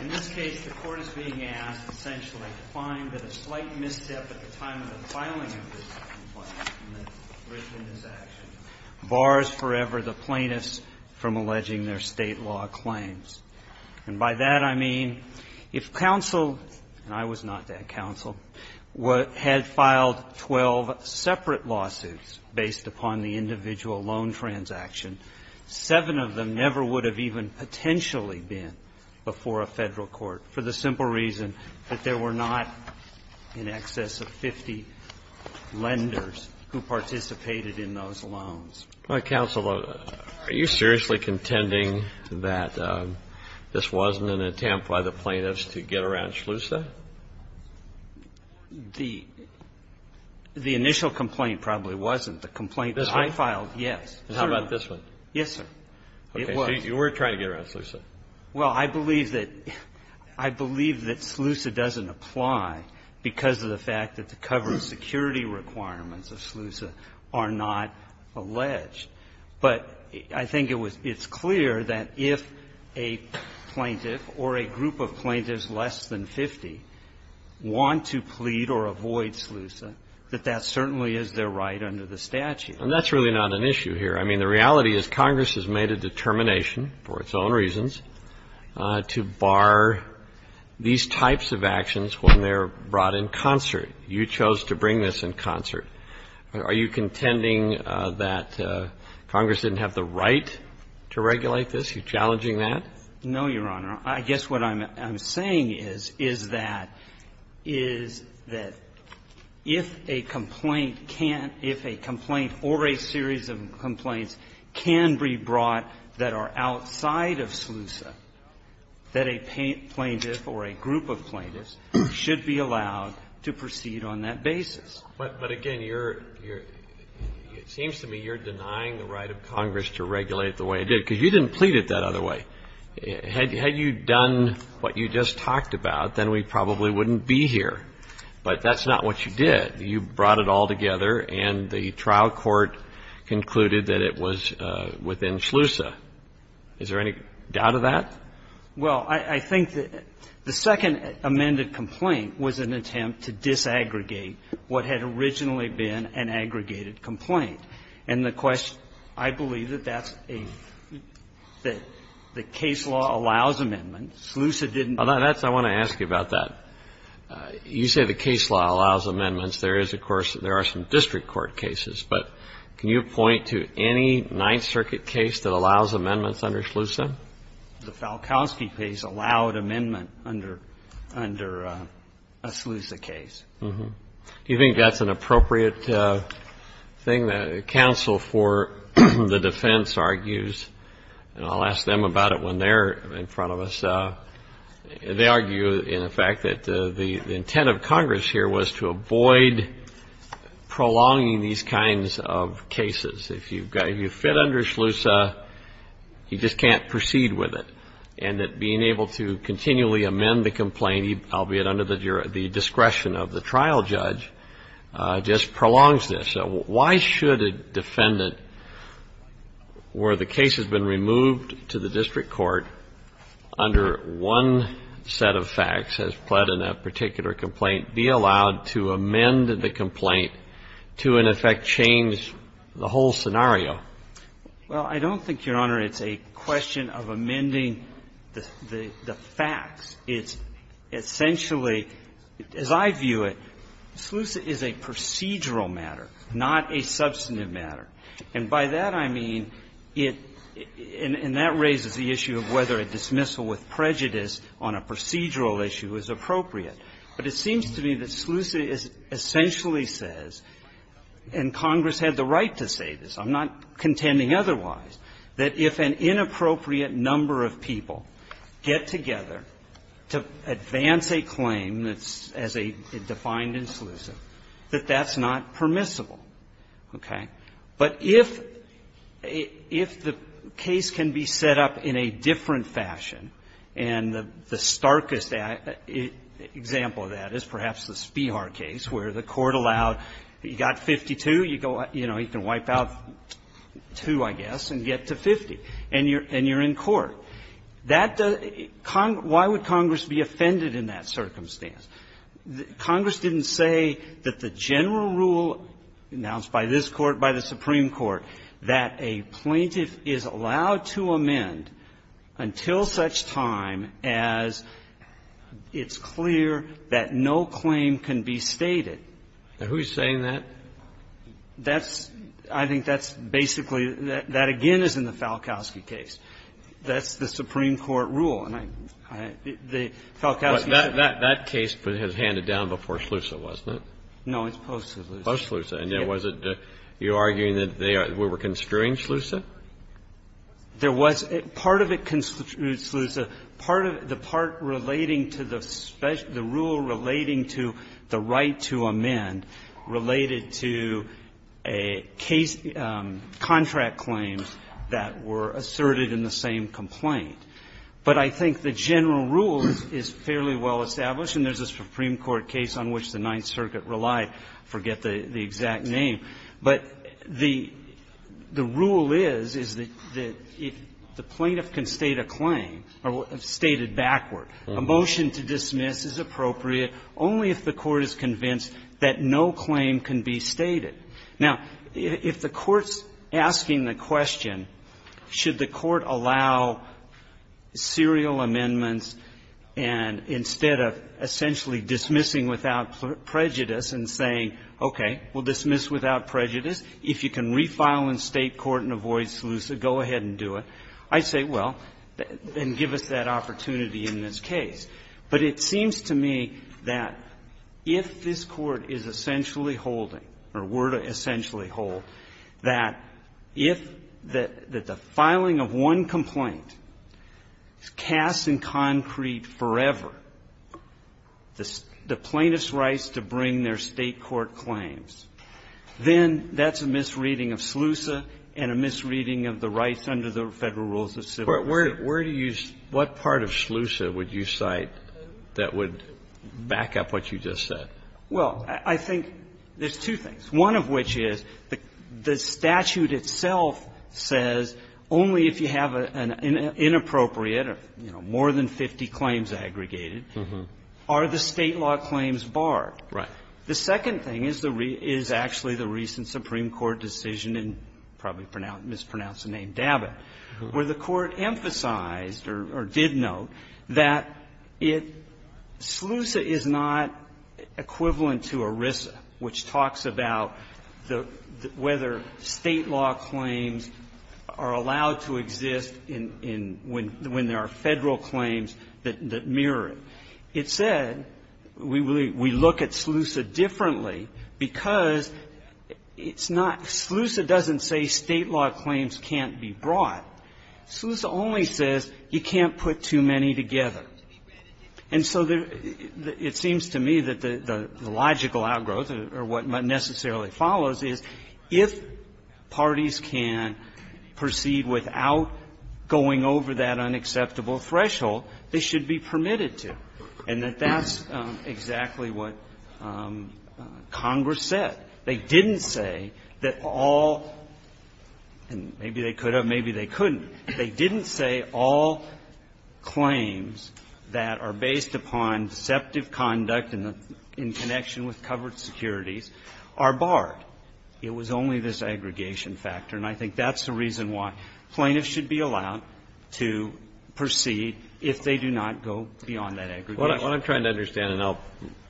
In this case, the court is being asked, essentially, to find that a slight misstep at the time of the filing of this complaint and the risk in this action bars forever the plaintiffs from alleging their state law claims. And by that I mean if counsel – and I was not that counsel – had filed 12 separate lawsuits based upon the individual loan transaction, seven of them never would have even potentially been before a federal court, for the simple reason that there were not in excess of 50 lenders who participated in those loans. Counsel, are you seriously contending that this wasn't an attempt by the plaintiffs to get around Shlusa? The initial complaint probably wasn't. This one? The complaint that I filed, yes. And how about this one? Yes, sir. It was. Okay. So you were trying to get around Shlusa. Well, I believe that – I believe that Shlusa doesn't apply because of the fact that the cover security requirements of Shlusa are not alleged. But I think it was – it's clear that if a plaintiff or a group of plaintiffs less than 50 want to plead or avoid Shlusa, that that certainly is their right under the statute. And that's really not an issue here. I mean, the reality is Congress has made a determination for its own reasons to bar these types of actions when they're brought in concert. You chose to bring this in concert. Are you contending that Congress didn't have the right to regulate this? Are you challenging that? No, Your Honor. I guess what I'm saying is, is that, is that if a complaint can't – if a complaint or a series of complaints can be brought that are outside of Shlusa, that a plaintiff or a group of plaintiffs should be allowed to proceed on that basis. But, again, you're – it seems to me you're denying the right of Congress to regulate the way it did, because you didn't plead it that other way. Had you done what you just talked about, then we probably wouldn't be here. But that's not what you did. You brought it all together, and the trial court concluded that it was within Shlusa. Is there any doubt of that? Well, I think that the second amended complaint was an attempt to disaggregate what had originally been an aggregated complaint. And the question – I believe that that's a – that the case law allows amendments. Shlusa didn't. That's – I want to ask you about that. You say the case law allows amendments. There is, of course – there are some district court cases, but can you point to any Ninth Circuit case that allows amendments under Shlusa? The Falkowski case allowed amendment under – under a Shlusa case. Do you think that's an appropriate thing that counsel for the defense argues? And I'll ask them about it when they're in front of us. They argue, in effect, that the intent of Congress here was to avoid prolonging these kinds of cases. If you fit under Shlusa, you just can't proceed with it. And that being able to continually amend the complaint, albeit under the discretion of the trial judge, just prolongs this. Why should a defendant, where the case has been removed to the district court under one set of facts as pled in that particular complaint, be allowed to amend the complaint to, in effect, change the whole scenario? Well, I don't think, Your Honor, it's a question of amending the facts. It's essentially, as I view it, Shlusa is a procedural matter, not a substantive matter. And by that I mean it – and that raises the issue of whether a dismissal with prejudice on a procedural issue is appropriate. But it seems to me that Shlusa essentially says, and Congress had the right to say this, I'm not contending otherwise, that if an inappropriate number of people get together to advance a claim that's as a defined in Shlusa, that that's not permissible. Okay? But if the case can be set up in a different fashion, and the starkest example of that is perhaps the Spihar case, where the court allowed, you got 52, you go, you know, you can wipe out two, I guess, and get to 50, and you're in court. That doesn't – why would Congress be offended in that circumstance? Congress didn't say that the general rule announced by this Court, by the Supreme Court, that a plaintiff is allowed to amend until such time as it's clear that no claim can be stated. And who's saying that? That's – I think that's basically – that again is in the Falkowski case. That's the Supreme Court rule. And I – the Falkowski case – But that case has handed down before Shlusa, hasn't it? No, it's post-Shlusa. Post-Shlusa. And was it – you're arguing that they were construing Shlusa? There was – part of it constitutes Shlusa. Part of it – the part relating to the rule relating to the right to amend related to a case – contract claims that were asserted in the same complaint. But I think the general rule is fairly well established, and there's a Supreme Court case on which the Ninth Circuit relied. I forget the exact name. But the rule is, is that if the plaintiff can state a claim – or stated backward. A motion to dismiss is appropriate only if the Court is convinced that no claim can be stated. Now, if the Court's asking the question, should the Court allow serial amendments and instead of essentially dismissing without prejudice and saying, okay, we'll dismiss without prejudice, if you can refile in State court and avoid Shlusa, go ahead and do it, I'd say, well, then give us that opportunity in this case. But it seems to me that if this Court is essentially holding, or were to essentially hold, that if the filing of one complaint casts in concrete forever the plaintiff's rights to bring their State court claims, then that's a misreading of Shlusa and a misreading of the rights under the Federal Rules of Civil Procedure. Kennedy, where do you – what part of Shlusa would you cite that would back up what you just said? Well, I think there's two things. One of which is the statute itself says only if you have an inappropriate or, you know, more than 50 claims aggregated are the State law claims barred. Right. The second thing is the – is actually the recent Supreme Court decision in probably mispronounced the name Dabbitt, where the Court emphasized or did note that it – Shlusa is not equivalent to ERISA, which talks about the – whether State law claims are allowed to exist in – when there are Federal claims that mirror it. It said we look at Shlusa differently because it's not – Shlusa doesn't say State law claims can't be brought. Shlusa only says you can't put too many together. And so there – it seems to me that the logical outgrowth or what necessarily follows is if parties can proceed without going over that unacceptable threshold, they should be permitted to, and that that's exactly what Congress said. They didn't say that all – and maybe they could have, maybe they couldn't. They didn't say all claims that are based upon deceptive conduct and in connection with covered securities are barred. It was only this aggregation factor, and I think that's the reason why plaintiffs should be allowed to proceed if they do not go beyond that aggregation. What I'm trying to understand, and I'll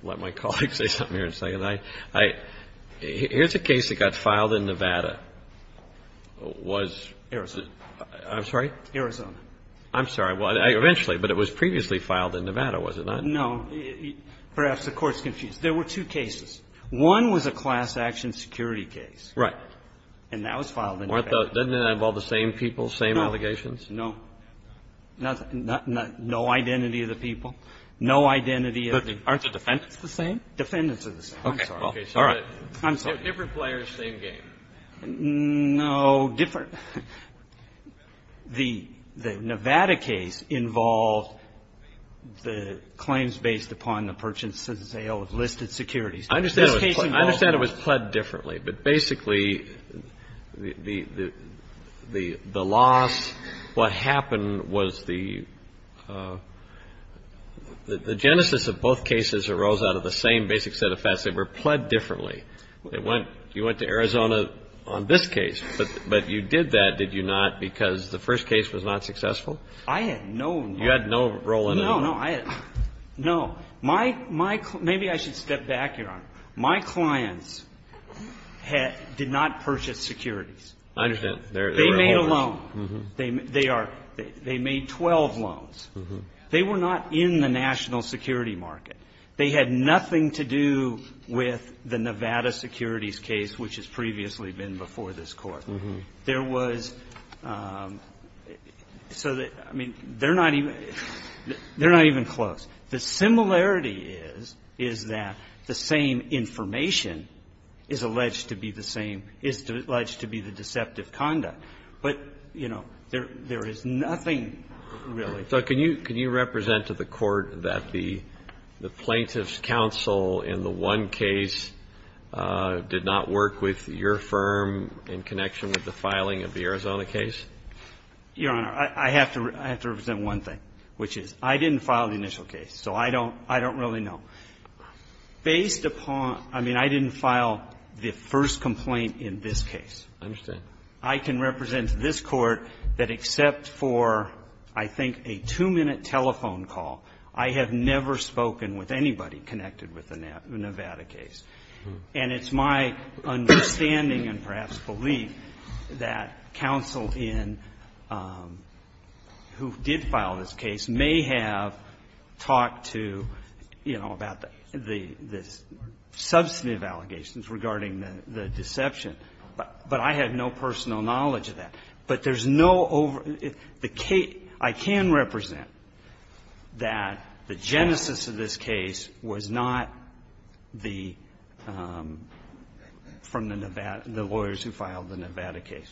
let my colleagues say something here in a second, I – here's a case that got filed in Nevada, was – Arizona. I'm sorry? Arizona. I'm sorry. Eventually, but it was previously filed in Nevada, was it not? No. Perhaps the Court's confused. There were two cases. One was a class action security case. Right. And that was filed in Nevada. Weren't those – didn't it involve the same people, same allegations? No. No. No identity of the people? No identity of the – Aren't the defendants the same? Defendants are the same. I'm sorry. Okay. Well, all right. I'm sorry. So different players, same game? No. Different – the Nevada case involved the claims based upon the purchase and sale of listed securities. I understand it was pled differently, but basically, the loss – what happened was the – the genesis of both cases arose out of the same basic set of facts. They were pled differently. You went to Arizona on this case, but you did that, did you not, because the first case was not successful? I had no – You had no role in it? No. No. I – no. My – maybe I should step back, Your Honor. My clients did not purchase securities. I understand. They were holders. They made a loan. Mm-hmm. They are – they made 12 loans. Mm-hmm. They were not in the national security market. They had nothing to do with the Nevada securities case, which has previously been before this Court. Mm-hmm. There was – so the – I mean, they're not even – they're not even close. The similarity is, is that the same information is alleged to be the same – is alleged to be the deceptive conduct. But, you know, there is nothing really. So can you – can you represent to the Court that the plaintiff's counsel in the one case did not work with your firm in connection with the filing of the Arizona case? Your Honor, I have to – I have to represent one thing, which is I didn't file the initial case, so I don't – I don't really know. Based upon – I mean, I didn't file the first complaint in this case. I understand. But I can represent to this Court that except for, I think, a two-minute telephone call, I have never spoken with anybody connected with the Nevada case. And it's my understanding and perhaps belief that counsel in – who did file this case may have talked to, you know, about the – the substantive allegations regarding the deception. But I have no personal knowledge of that. But there's no over – the case – I can represent that the genesis of this case was not the – from the Nevada – the lawyers who filed the Nevada case.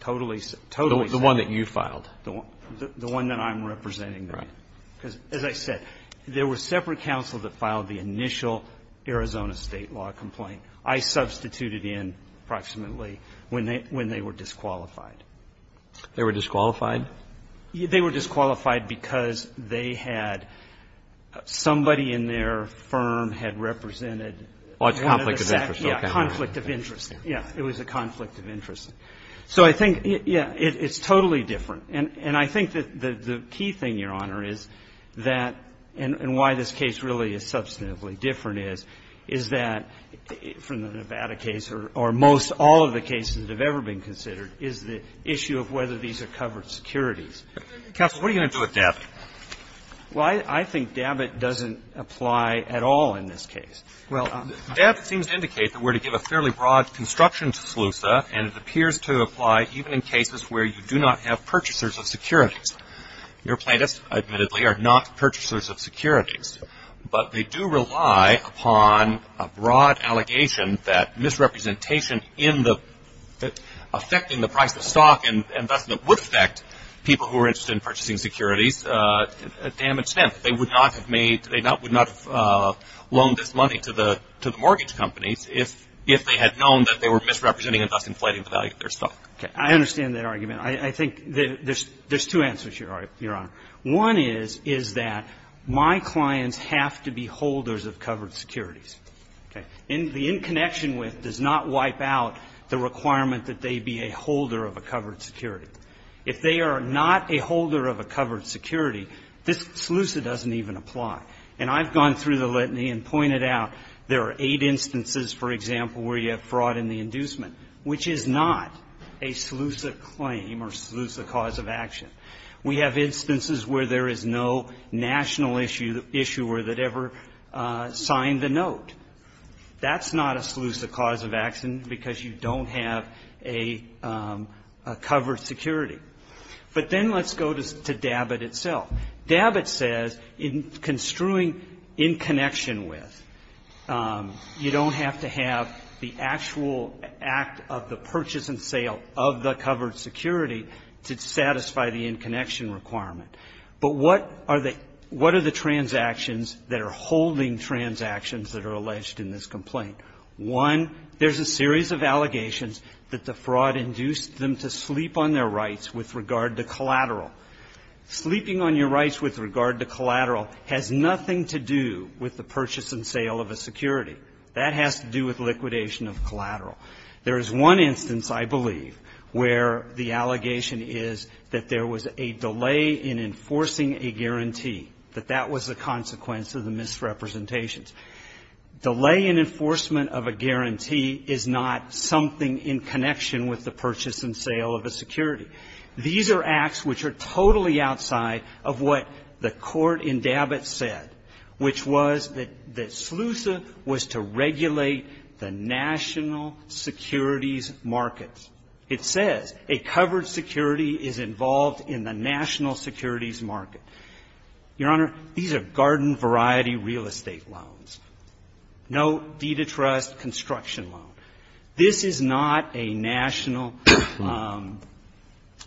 Totally – totally separate. The one that you filed. The one that I'm representing there. Right. Because, as I said, there were separate counsels that filed the initial Arizona state law complaint. I substituted in approximately when they – when they were disqualified. They were disqualified? They were disqualified because they had – somebody in their firm had represented one of the – Oh, it's conflict of interest. Okay. Yeah. Conflict of interest. Yeah. It was a conflict of interest. So I think – yeah. It's totally different. And I think that the key thing, Your Honor, is that – and why this case really is different from the Nevada case or most all of the cases that have ever been considered is the issue of whether these are covered securities. Counsel, what are you going to do with Dabbitt? Well, I think Dabbitt doesn't apply at all in this case. Well, Dabbitt seems to indicate that we're to give a fairly broad construction to SLUSA, and it appears to apply even in cases where you do not have purchasers of securities. Your plaintiffs, admittedly, are not purchasers of securities. But they do rely upon a broad allegation that misrepresentation in the – affecting the price of stock and investment would affect people who are interested in purchasing securities a damaged step. They would not have made – they would not have loaned this money to the mortgage companies if they had known that they were misrepresenting and thus inflating the value of their stock. Okay. I understand that argument. I think there's two answers, Your Honor. One is, is that my clients have to be holders of covered securities. Okay. And the in connection with does not wipe out the requirement that they be a holder of a covered security. If they are not a holder of a covered security, this SLUSA doesn't even apply. And I've gone through the litany and pointed out there are eight instances, for example, where you have fraud in the inducement, which is not a SLUSA claim or SLUSA cause of action. We have instances where there is no national issuer that ever signed the note. That's not a SLUSA cause of action because you don't have a covered security. But then let's go to DABIT itself. DABIT says, in construing in connection with, you don't have to have the actual act of the purchase and sale of the covered security to satisfy the in connection requirement. But what are the transactions that are holding transactions that are alleged in this complaint? One, there's a series of allegations that the fraud induced them to sleep on their rights with regard to collateral. Sleeping on your rights with regard to collateral has nothing to do with the purchase and sale of a security. That has to do with liquidation of collateral. There is one instance, I believe, where the allegation is that there was a delay in enforcing a guarantee, that that was a consequence of the misrepresentations. Delay in enforcement of a guarantee is not something in connection with the purchase and sale of a security. These are acts which are totally outside of what the court in DABIT said, which was that SLUSA was to regulate the national securities markets. It says, a covered security is involved in the national securities market. Your Honor, these are garden variety real estate loans. No deed of trust construction loan. This is not a national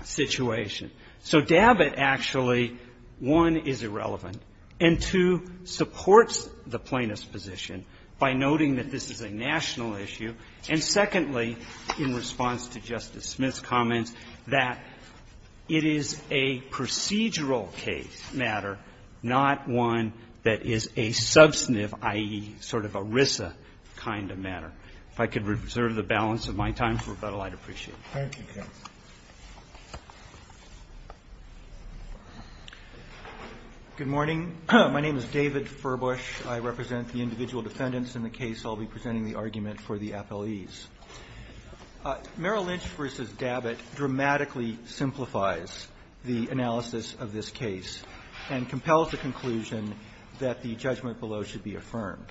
situation. So DABIT actually, one, is irrelevant, and two, supports the plaintiff's position by noting that this is a national issue. And secondly, in response to Justice Smith's comments, that it is a procedural case matter, not one that is a subsniff, i.e., sort of a RISA kind of matter. If I could reserve the balance of my time for Rebuttal, I'd appreciate it. Thank you. Good morning. My name is David Furbush. I represent the individual defendants in the case I'll be presenting the argument for the appellees. Merrill Lynch v. DABIT dramatically simplifies the analysis of this case and compels the conclusion that the judgment below should be affirmed.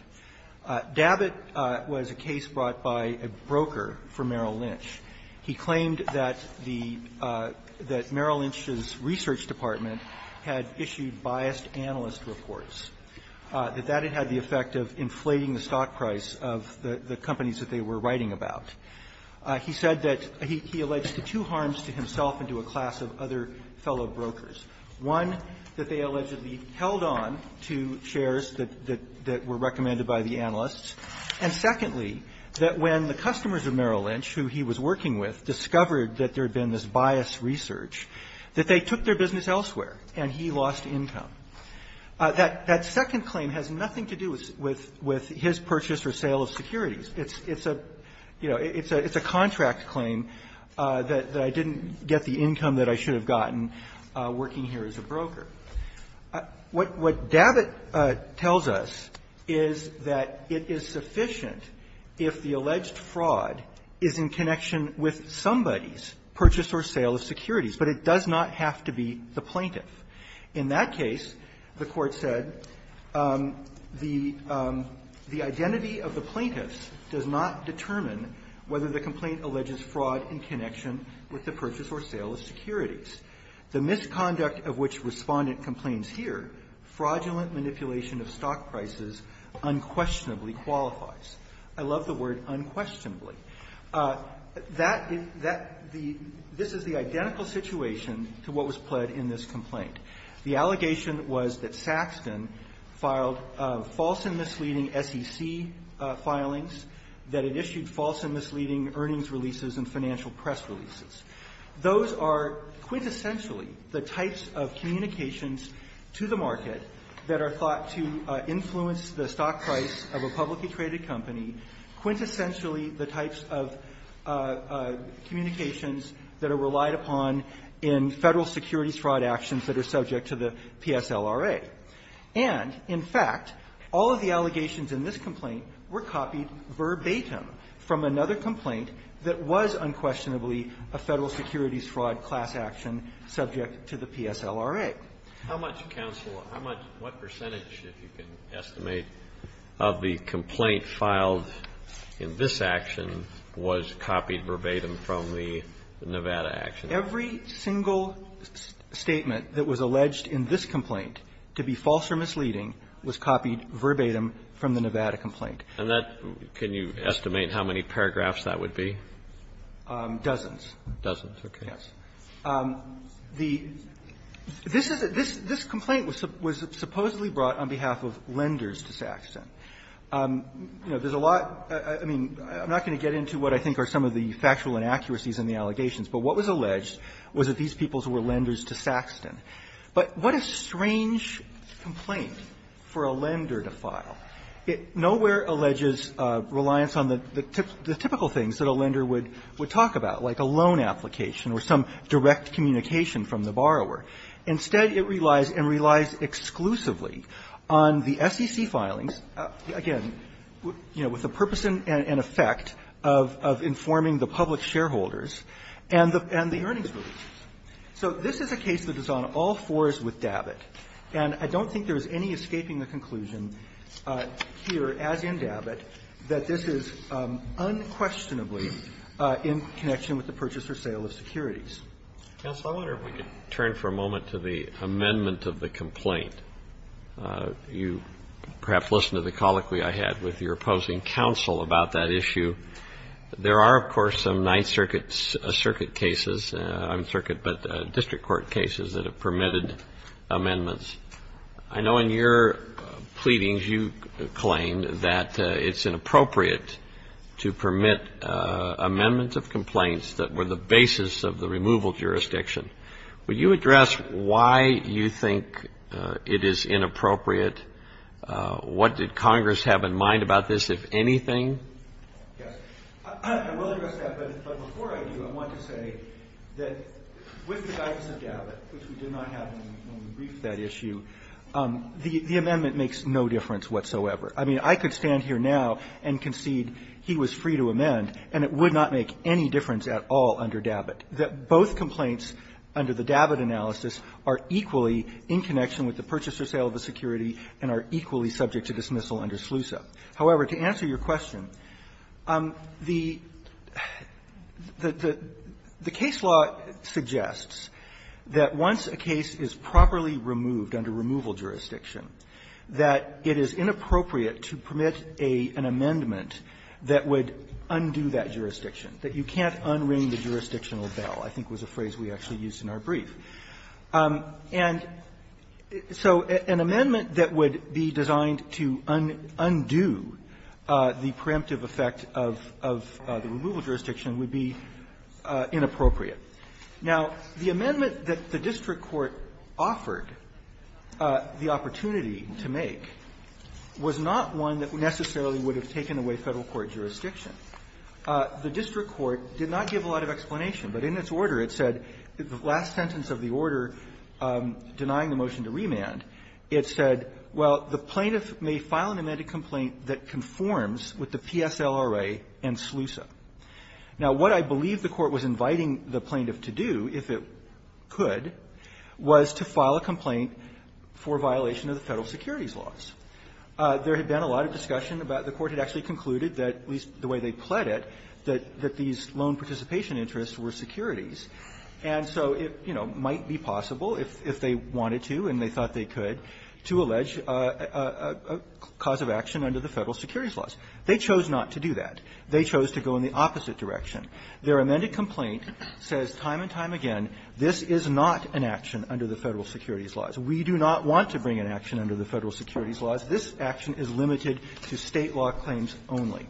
DABIT was a case brought by a broker for Merrill Lynch. He claimed that the – that Merrill Lynch's research department had issued biased analyst reports, that that had had the effect of inflating the stock price of the companies that they were writing about. He said that he alleged two harms to himself and to a class of other fellow brokers. One, that they allegedly held on to shares that were recommended by the analysts. And secondly, that when the customers of Merrill Lynch, who he was working with, discovered that there had been this biased research, that they took their business elsewhere and he lost income. That second claim has nothing to do with his purchase or sale of securities. It's a – you know, it's a contract claim that I didn't get the income that I should have gotten working here as a broker. What – what DABIT tells us is that it is sufficient if the alleged fraud is in connection with somebody's purchase or sale of securities, but it does not have to be the plaintiff. In that case, the Court said the – the identity of the plaintiffs does not determine whether the complaint alleges fraud in connection with the purchase or sale of securities. The misconduct of which Respondent complains here, fraudulent manipulation of stock prices, unquestionably qualifies. I love the word unquestionably. That – that – the – this is the identical situation to what was pled in this complaint. The allegation was that Saxton filed false and misleading SEC filings, that it issued false and misleading earnings releases and financial press releases. Those are quintessentially the types of communications to the market that are thought to influence the stock price of a publicly traded company, quintessentially the types of communications that are relied upon in Federal securities fraud actions that are subject to the PSLRA. And, in fact, all of the allegations in this complaint were copied verbatim from another complaint that was unquestionably a Federal securities fraud class action subject to the PSLRA. How much counsel – how much – what percentage, if you can estimate, of the complaint filed in this action was copied verbatim from the Nevada action? Every single statement that was alleged in this complaint to be false or misleading was copied verbatim from the Nevada complaint. And that – can you estimate how many paragraphs that would be? Dozens. Dozens, okay. Yes. The – this is a – this complaint was supposedly brought on behalf of lenders to Saxton. You know, there's a lot – I mean, I'm not going to get into what I think are some of the factual inaccuracies in the allegations, but what was alleged was that these people were lenders to Saxton. But what a strange complaint for a lender to file. It nowhere alleges reliance on the typical things that a lender would talk about, like a loan application or some direct communication from the borrower. Instead, it relies – and relies exclusively on the SEC filings, again, you know, with the purpose and effect of informing the public shareholders and the earnings releases. So this is a case that is on all fours with David. And I don't think there's any escaping the conclusion here, as in David, that this is unquestionably in connection with the purchase or sale of securities. Counsel, I wonder if we could turn for a moment to the amendment of the complaint. You perhaps listened to the colloquy I had with your opposing counsel about that issue. There are, of course, some Ninth Circuit's circuit cases – I mean circuit, but district court cases – that have permitted amendments. I know in your pleadings you claimed that it's inappropriate to permit amendments of complaints that were the basis of the removal jurisdiction. Would you address why you think it is inappropriate? What did Congress have in mind about this, if anything? Yes. I will address that, but before I do, I want to say that with the guidance of David, which we did not have when we briefed that issue, the amendment makes no difference whatsoever. I mean, I could stand here now and concede he was free to amend, and it would not make any difference at all under David, that both complaints under the David analysis are equally in connection with the purchase or sale of a security and are equally subject to dismissal under SLUSA. However, to answer your question, the case law suggests that once a case is properly removed under removal jurisdiction, that it is inappropriate to permit an amendment that would undo that jurisdiction, that you can't unring the jurisdictional bell, I think was a phrase we actually used, that would be designed to undo the preemptive effect of the removal jurisdiction would be inappropriate. Now, the amendment that the district court offered, the opportunity to make, was not one that necessarily would have taken away Federal court jurisdiction. The district court did not give a lot of explanation, but in its order it said, the last sentence of the order denying the motion to remand, it said, well, the plaintiff may file an amended complaint that conforms with the PSLRA and SLUSA. Now, what I believe the Court was inviting the plaintiff to do, if it could, was to file a complaint for violation of the Federal securities laws. There had been a lot of discussion about it. The Court had actually concluded that, at least the way they pled it, that these loan participation interests were securities. And so it, you know, might be possible if they wanted to and they thought they could, to allege a cause of action under the Federal securities laws. They chose not to do that. They chose to go in the opposite direction. Their amended complaint says time and time again, this is not an action under the Federal securities laws. We do not want to bring an action under the Federal securities laws. This action is limited to State law claims only.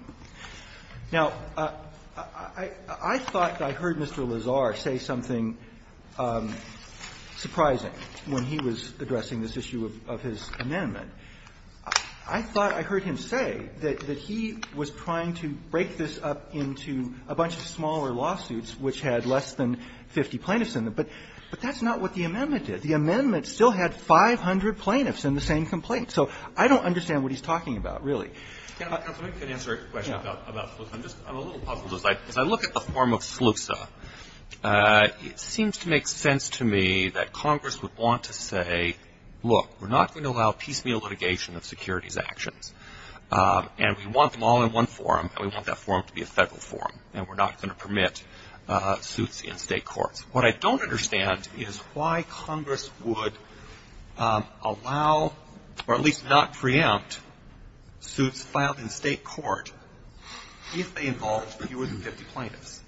Now, I thought I heard Mr. Lazar say something surprising when he was addressing this issue of his amendment. I thought I heard him say that he was trying to break this up into a bunch of separate smaller lawsuits which had less than 50 plaintiffs in them. But that's not what the amendment did. The amendment still had 500 plaintiffs in the same complaint. So I don't understand what he's talking about, really. Roberts. I'm a little puzzled. As I look at the form of SLUSA, it seems to make sense to me that Congress would want to say, look, we're not going to allow piecemeal litigation of securities actions, and we want them all in one forum, and we want that in a single forum, and we're not going to permit suits in State courts. What I don't understand is why Congress would allow or at least not preempt suits filed in State court if they involved fewer than 50 plaintiffs.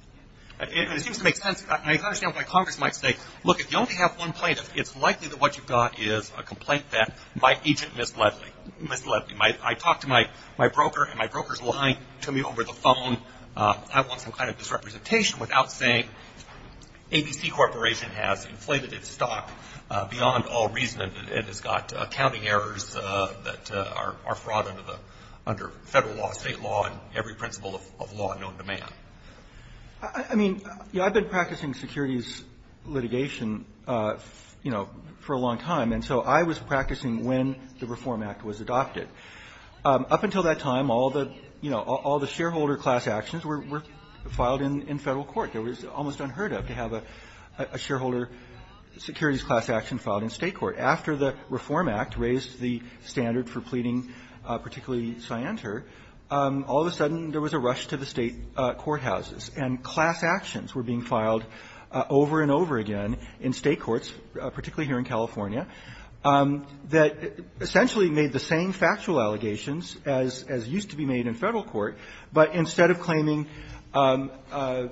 It seems to make sense. I understand why Congress might say, look, if you only have one plaintiff, it's likely that what you've got is a complaint that my agent misled me. I talked to my broker, and my broker's lying to me over the phone. I want some kind of disrepresentation without saying ABC Corporation has inflated its stock beyond all reason and has got accounting errors that are fraud under Federal law, State law, and every principle of law and on demand. I mean, I've been practicing securities litigation, you know, for a long time. And so I was practicing when the Reform Act was adopted. Up until that time, all the, you know, all the shareholder class actions were filed in Federal court. It was almost unheard of to have a shareholder securities class action filed in State court. After the Reform Act raised the standard for pleading, particularly Scienter, all of a sudden there was a rush to the State courthouses, and class actions were being filed, that essentially made the same factual allegations as used to be made in Federal court, but instead of claiming a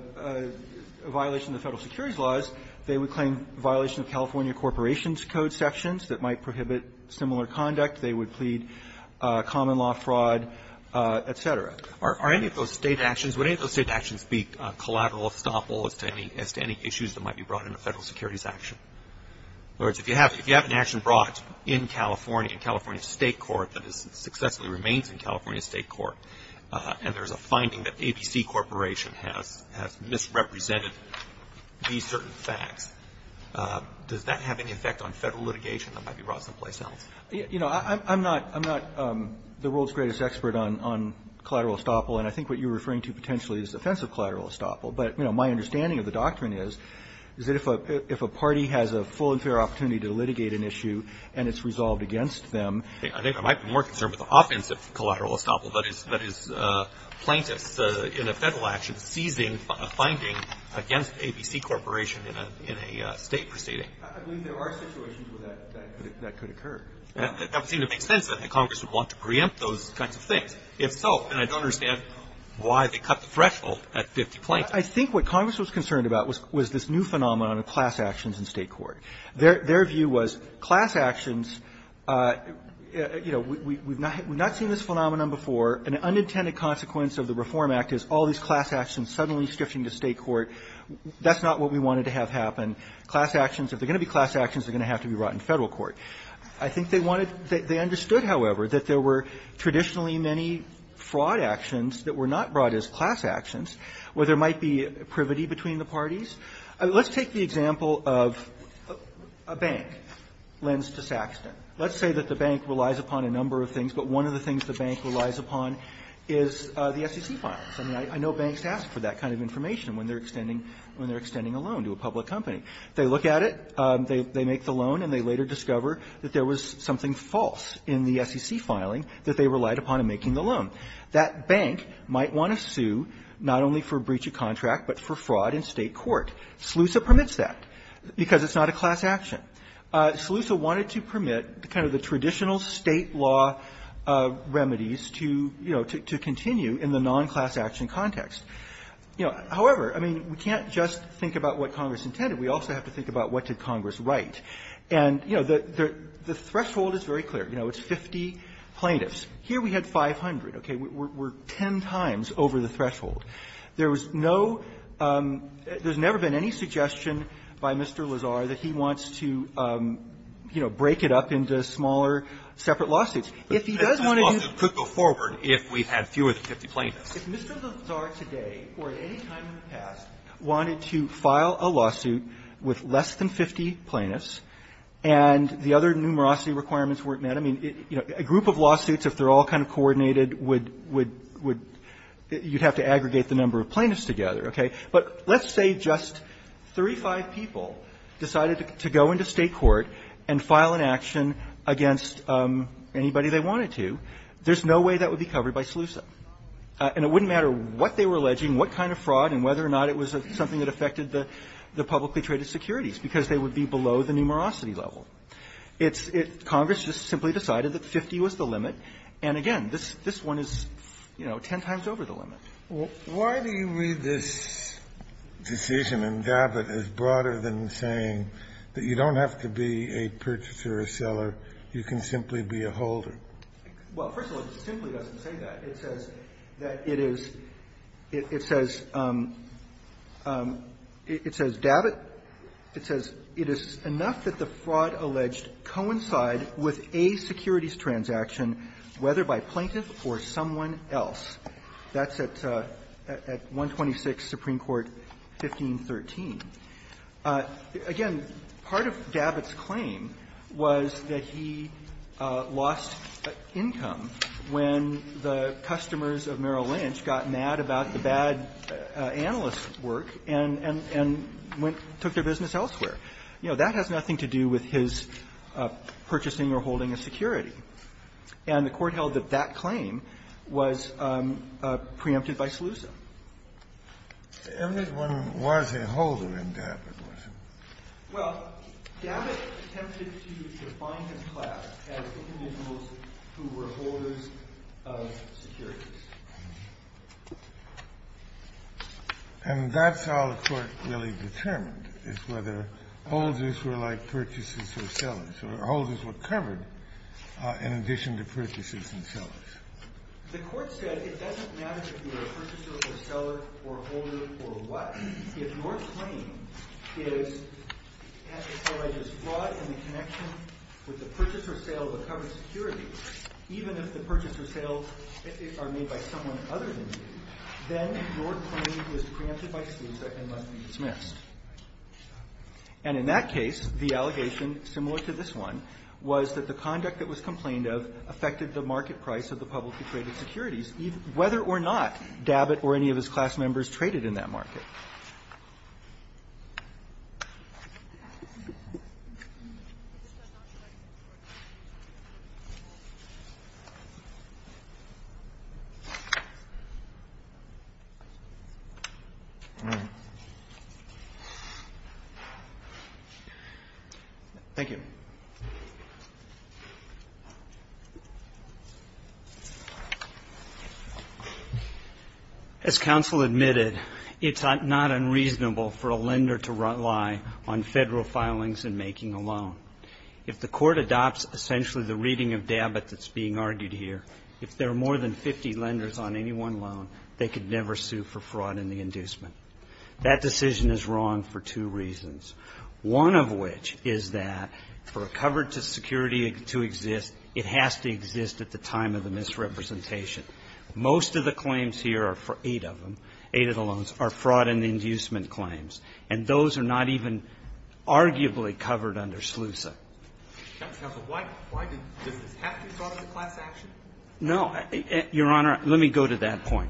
violation of the Federal securities laws, they would claim violation of California Corporations Code sections that might prohibit similar conduct. They would plead common law fraud, et cetera. Roberts. Are any of those State actions, would any of those State actions be collateral estoppel as to any issues that might be brought into Federal securities action? In other words, if you have an action brought in California, in California State court that successfully remains in California State court, and there's a finding that ABC Corporation has misrepresented these certain facts, does that have any effect on Federal litigation that might be brought someplace else? You know, I'm not the world's greatest expert on collateral estoppel, and I think what you're referring to potentially is offensive collateral estoppel. But, you know, my understanding of the doctrine is, is that if a party has a full and fair opportunity to litigate an issue, and it's resolved against them. I think I might be more concerned with offensive collateral estoppel, that is plaintiffs in a Federal action seizing a finding against ABC Corporation in a State proceeding. I believe there are situations where that could occur. That would seem to make sense, that Congress would want to preempt those kinds of things. If so, then I don't understand why they cut the threshold at 50 plaintiffs. I think what Congress was concerned about was this new phenomenon of class actions in State court. Their view was class actions, you know, we've not seen this phenomenon before. An unintended consequence of the Reform Act is all these class actions suddenly shifting to State court. That's not what we wanted to have happen. Class actions, if they're going to be class actions, they're going to have to be brought in Federal court. I think they wanted, they understood, however, that there were traditionally many fraud actions that were not brought as class actions, where there might be privity between the parties. Let's take the example of a bank lends to Saxton. Let's say that the bank relies upon a number of things, but one of the things the bank relies upon is the SEC filing. I mean, I know banks ask for that kind of information when they're extending a loan to a public company. They look at it, they make the loan, and they later discover that there was something false in the SEC filing that they relied upon in making the loan. That bank might want to sue not only for breach of contract, but for fraud in State court. SLUSA permits that because it's not a class action. SLUSA wanted to permit kind of the traditional State law remedies to, you know, to continue in the non-class action context. You know, however, I mean, we can't just think about what Congress intended. We also have to think about what did Congress write. And, you know, the threshold is very clear. You know, it's 50 plaintiffs. Here we had 500. Okay. We're 10 times over the threshold. There was no – there's never been any suggestion by Mr. Lazar that he wants to, you know, break it up into smaller separate lawsuits. If he does want to do… But this lawsuit could go forward if we had fewer than 50 plaintiffs. If Mr. Lazar today or at any time in the past wanted to file a lawsuit with less than 50 plaintiffs and the other numerosity requirements weren't met, I mean, a group of lawsuits, if they're all kind of coordinated, would – you'd have to aggregate the number of plaintiffs together. Okay. But let's say just three, five people decided to go into State court and file an action against anybody they wanted to. There's no way that would be covered by SLUSA. And it wouldn't matter what they were alleging, what kind of fraud, and whether or not it was something that affected the publicly traded securities, because they would be below the numerosity level. It's – Congress just simply decided that 50 was the limit. And again, this one is, you know, 10 times over the limit. Why do you read this decision in Gabbitt as broader than saying that you don't have to be a purchaser or seller, you can simply be a holder? Well, first of all, it simply doesn't say that. It says that it is – it says – it says Gabbitt – it says it is enough that the fraud alleged coincide with a securities transaction, whether by plaintiff or someone else. That's at 126 Supreme Court 1513. Again, part of Gabbitt's claim was that he lost income when the plaintiff customers of Merrill Lynch got mad about the bad analyst's work and went – took their business elsewhere. You know, that has nothing to do with his purchasing or holding a security. And the Court held that that claim was preempted by SLUSA. Everyone was a holder in Gabbitt, wasn't he? Well, Gabbitt attempted to define his class as individuals who were holders of securities. And that's how the Court really determined, is whether holders were like purchases or sellers, or holders were covered in addition to purchases and sellers. The Court said it doesn't matter if you're a purchaser or seller or holder for what If your claim is – as I said, I just – fraud in the connection with the purchase or sale of a covered security, even if the purchase or sale are made by someone other than you, then your claim is preempted by SLUSA and must be dismissed. And in that case, the allegation, similar to this one, was that the conduct that was complained of affected the market price of the publicly traded securities, whether or not Gabbitt or any of his class members traded in that market. Thank you. As counsel admitted, it's not unreasonable for a lender to rely on federal filings in making a loan. If the Court adopts essentially the reading of Gabbitt that's being argued here, if there are more than 50 lenders on any one loan, they could never sue for fraud in the inducement. That decision is wrong for two reasons, one of which is that for a covered security to exist, it has to exist at the time of the misrepresentation. Most of the claims here are – eight of them, eight of the loans – are fraud in the inducement claims, and those are not even arguably covered under SLUSA. No, Your Honor, let me go to that point.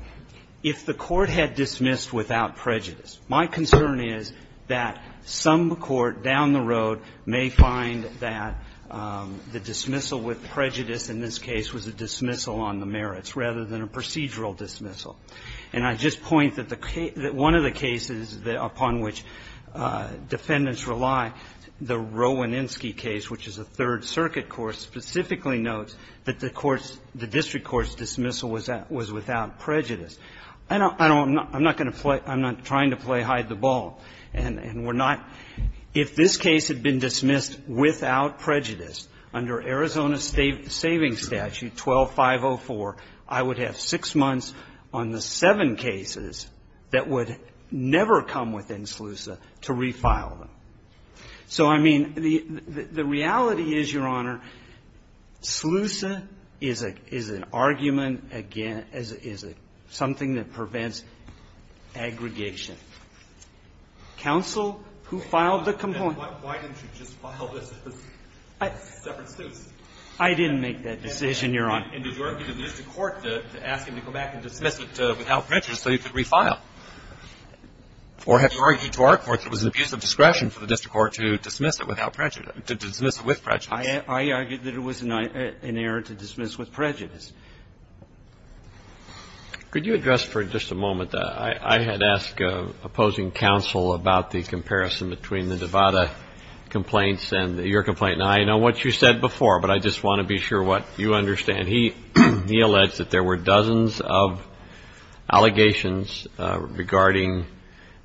If the Court had dismissed without prejudice, my concern is that some court down the road may find that the dismissal with prejudice in this case was a dismissal on the merits rather than a procedural dismissal. And I just point that the case – that one of the cases upon which defendants rely, the Rowaninsky case, which is a Third Circuit court, specifically notes that the court's – the district court's dismissal was without prejudice. I don't – I'm not going to play – I'm not trying to play hide-the-ball. And we're not – if this case had been dismissed without prejudice under Arizona Savings Statute 12-504, I would have six months on the seven cases that would never come within SLUSA to refile them. So, I mean, the reality is, Your Honor, some of the cases that have been dismissed without prejudice have been refiled under SLUSA. And SLUSA is a – is an argument against – is something that prevents aggregation. Counsel, who filed the complaint? Why didn't you just file this as a separate suit? I didn't make that decision, Your Honor. And did you argue to the district court to ask him to go back and dismiss it without prejudice so he could refile? Or have you argued to our court that it was an abuse of discretion for the district court to dismiss it without prejudice – to dismiss it with prejudice? I argued that it was an error to dismiss with prejudice. Could you address for just a moment that I had asked opposing counsel about the comparison between the Devada complaints and your complaint? Now, I know what you said before, but I just want to be sure what you understand. And he – he alleged that there were dozens of allegations regarding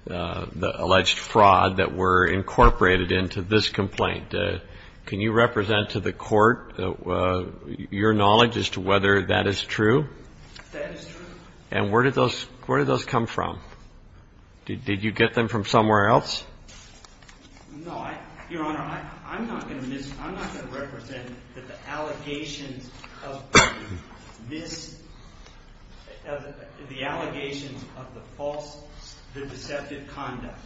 the alleged fraud that were incorporated into this complaint. Can you represent to the court your knowledge as to whether that is true? That is true. And where did those – where did those come from? Did you get them from somewhere else? No, I – Your Honor, I'm not going to miss – I'm not going to represent that the allegations of this – the allegations of the false – the deceptive conduct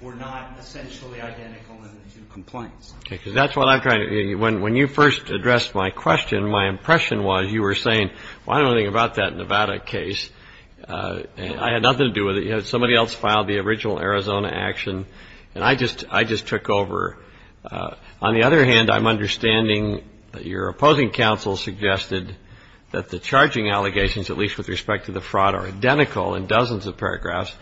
were not essentially identical in the two complaints. Okay, because that's what I'm trying to – when you first addressed my question, my impression was you were saying, well, I don't know anything about that Nevada case. I had nothing to do with it. Somebody else filed the original Arizona action, and I just – I just took over. On the other hand, I'm understanding that your opposing counsel suggested that the charging allegations, at least with respect to the fraud, are identical in dozens of paragraphs.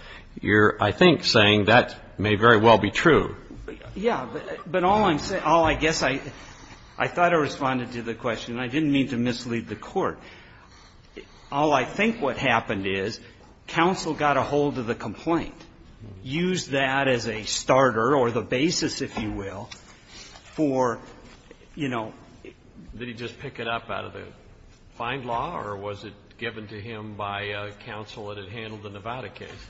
You're, I think, saying that may very well be true. Yeah, but all I'm saying – all I guess I – I thought I responded to the question. I didn't mean to mislead the Court. All I think what happened is counsel got a hold of the complaint, used that as a starter or the basis, if you will, for, you know – Did he just pick it up out of the fine law, or was it given to him by counsel that had handled the Nevada case,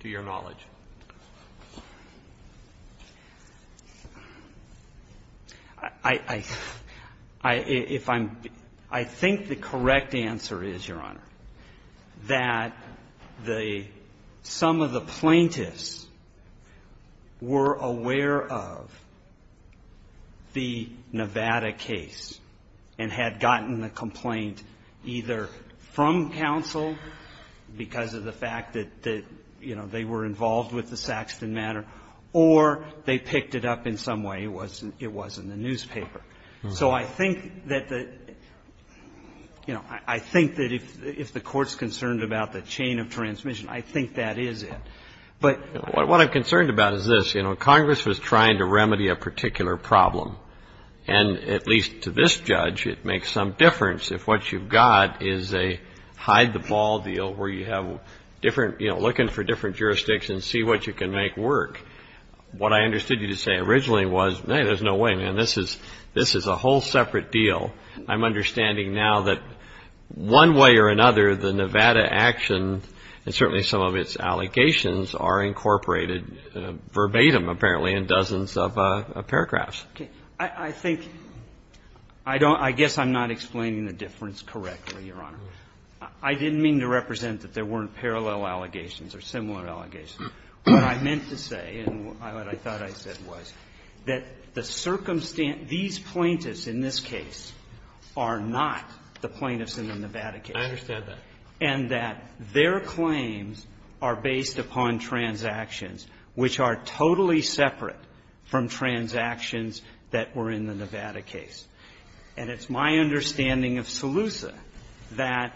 to your knowledge? I – I – if I'm – I think the correct answer is, Your Honor, that the – some of the plaintiffs were aware of the Nevada case and had gotten the complaint either from counsel because of the fact that, you know, they were involved with the Saxton matter, or they picked it up in some way. It wasn't – it wasn't in the newspaper. So I think that the – you know, I think that if the Court's concerned about the chain of transmission, I think that is it. But – What I'm concerned about is this. You know, Congress was trying to remedy a particular problem. And at least to this judge, it makes some difference if what you've got is a hide-the-ball deal where you have different – you know, looking for different jurisdicts and see what you can make work. What I understood you to say originally was, no, there's no way, man. This is – this is a whole separate deal. I'm understanding now that one way or another, the Nevada action, and certainly some of its allegations, are incorporated verbatim, apparently, in dozens of paragraphs. I think – I don't – I guess I'm not explaining the difference correctly, Your Honor. I didn't mean to represent that there weren't parallel allegations or similar allegations. What I meant to say and what I thought I said was that the circumstance – these plaintiffs in this case are not the plaintiffs in the Nevada case. I understand that. And that their claims are based upon transactions which are totally separate from transactions that were in the Nevada case. And it's my understanding of Saluza that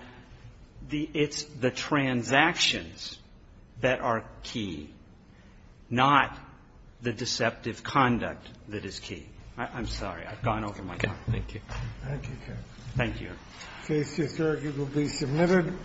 the – it's the transactions that are key, not the deceptive conduct that is key. I'm sorry. I've gone over my time. Thank you. Thank you, counsel. Thank you, Your Honor. Case to assert it will be submitted.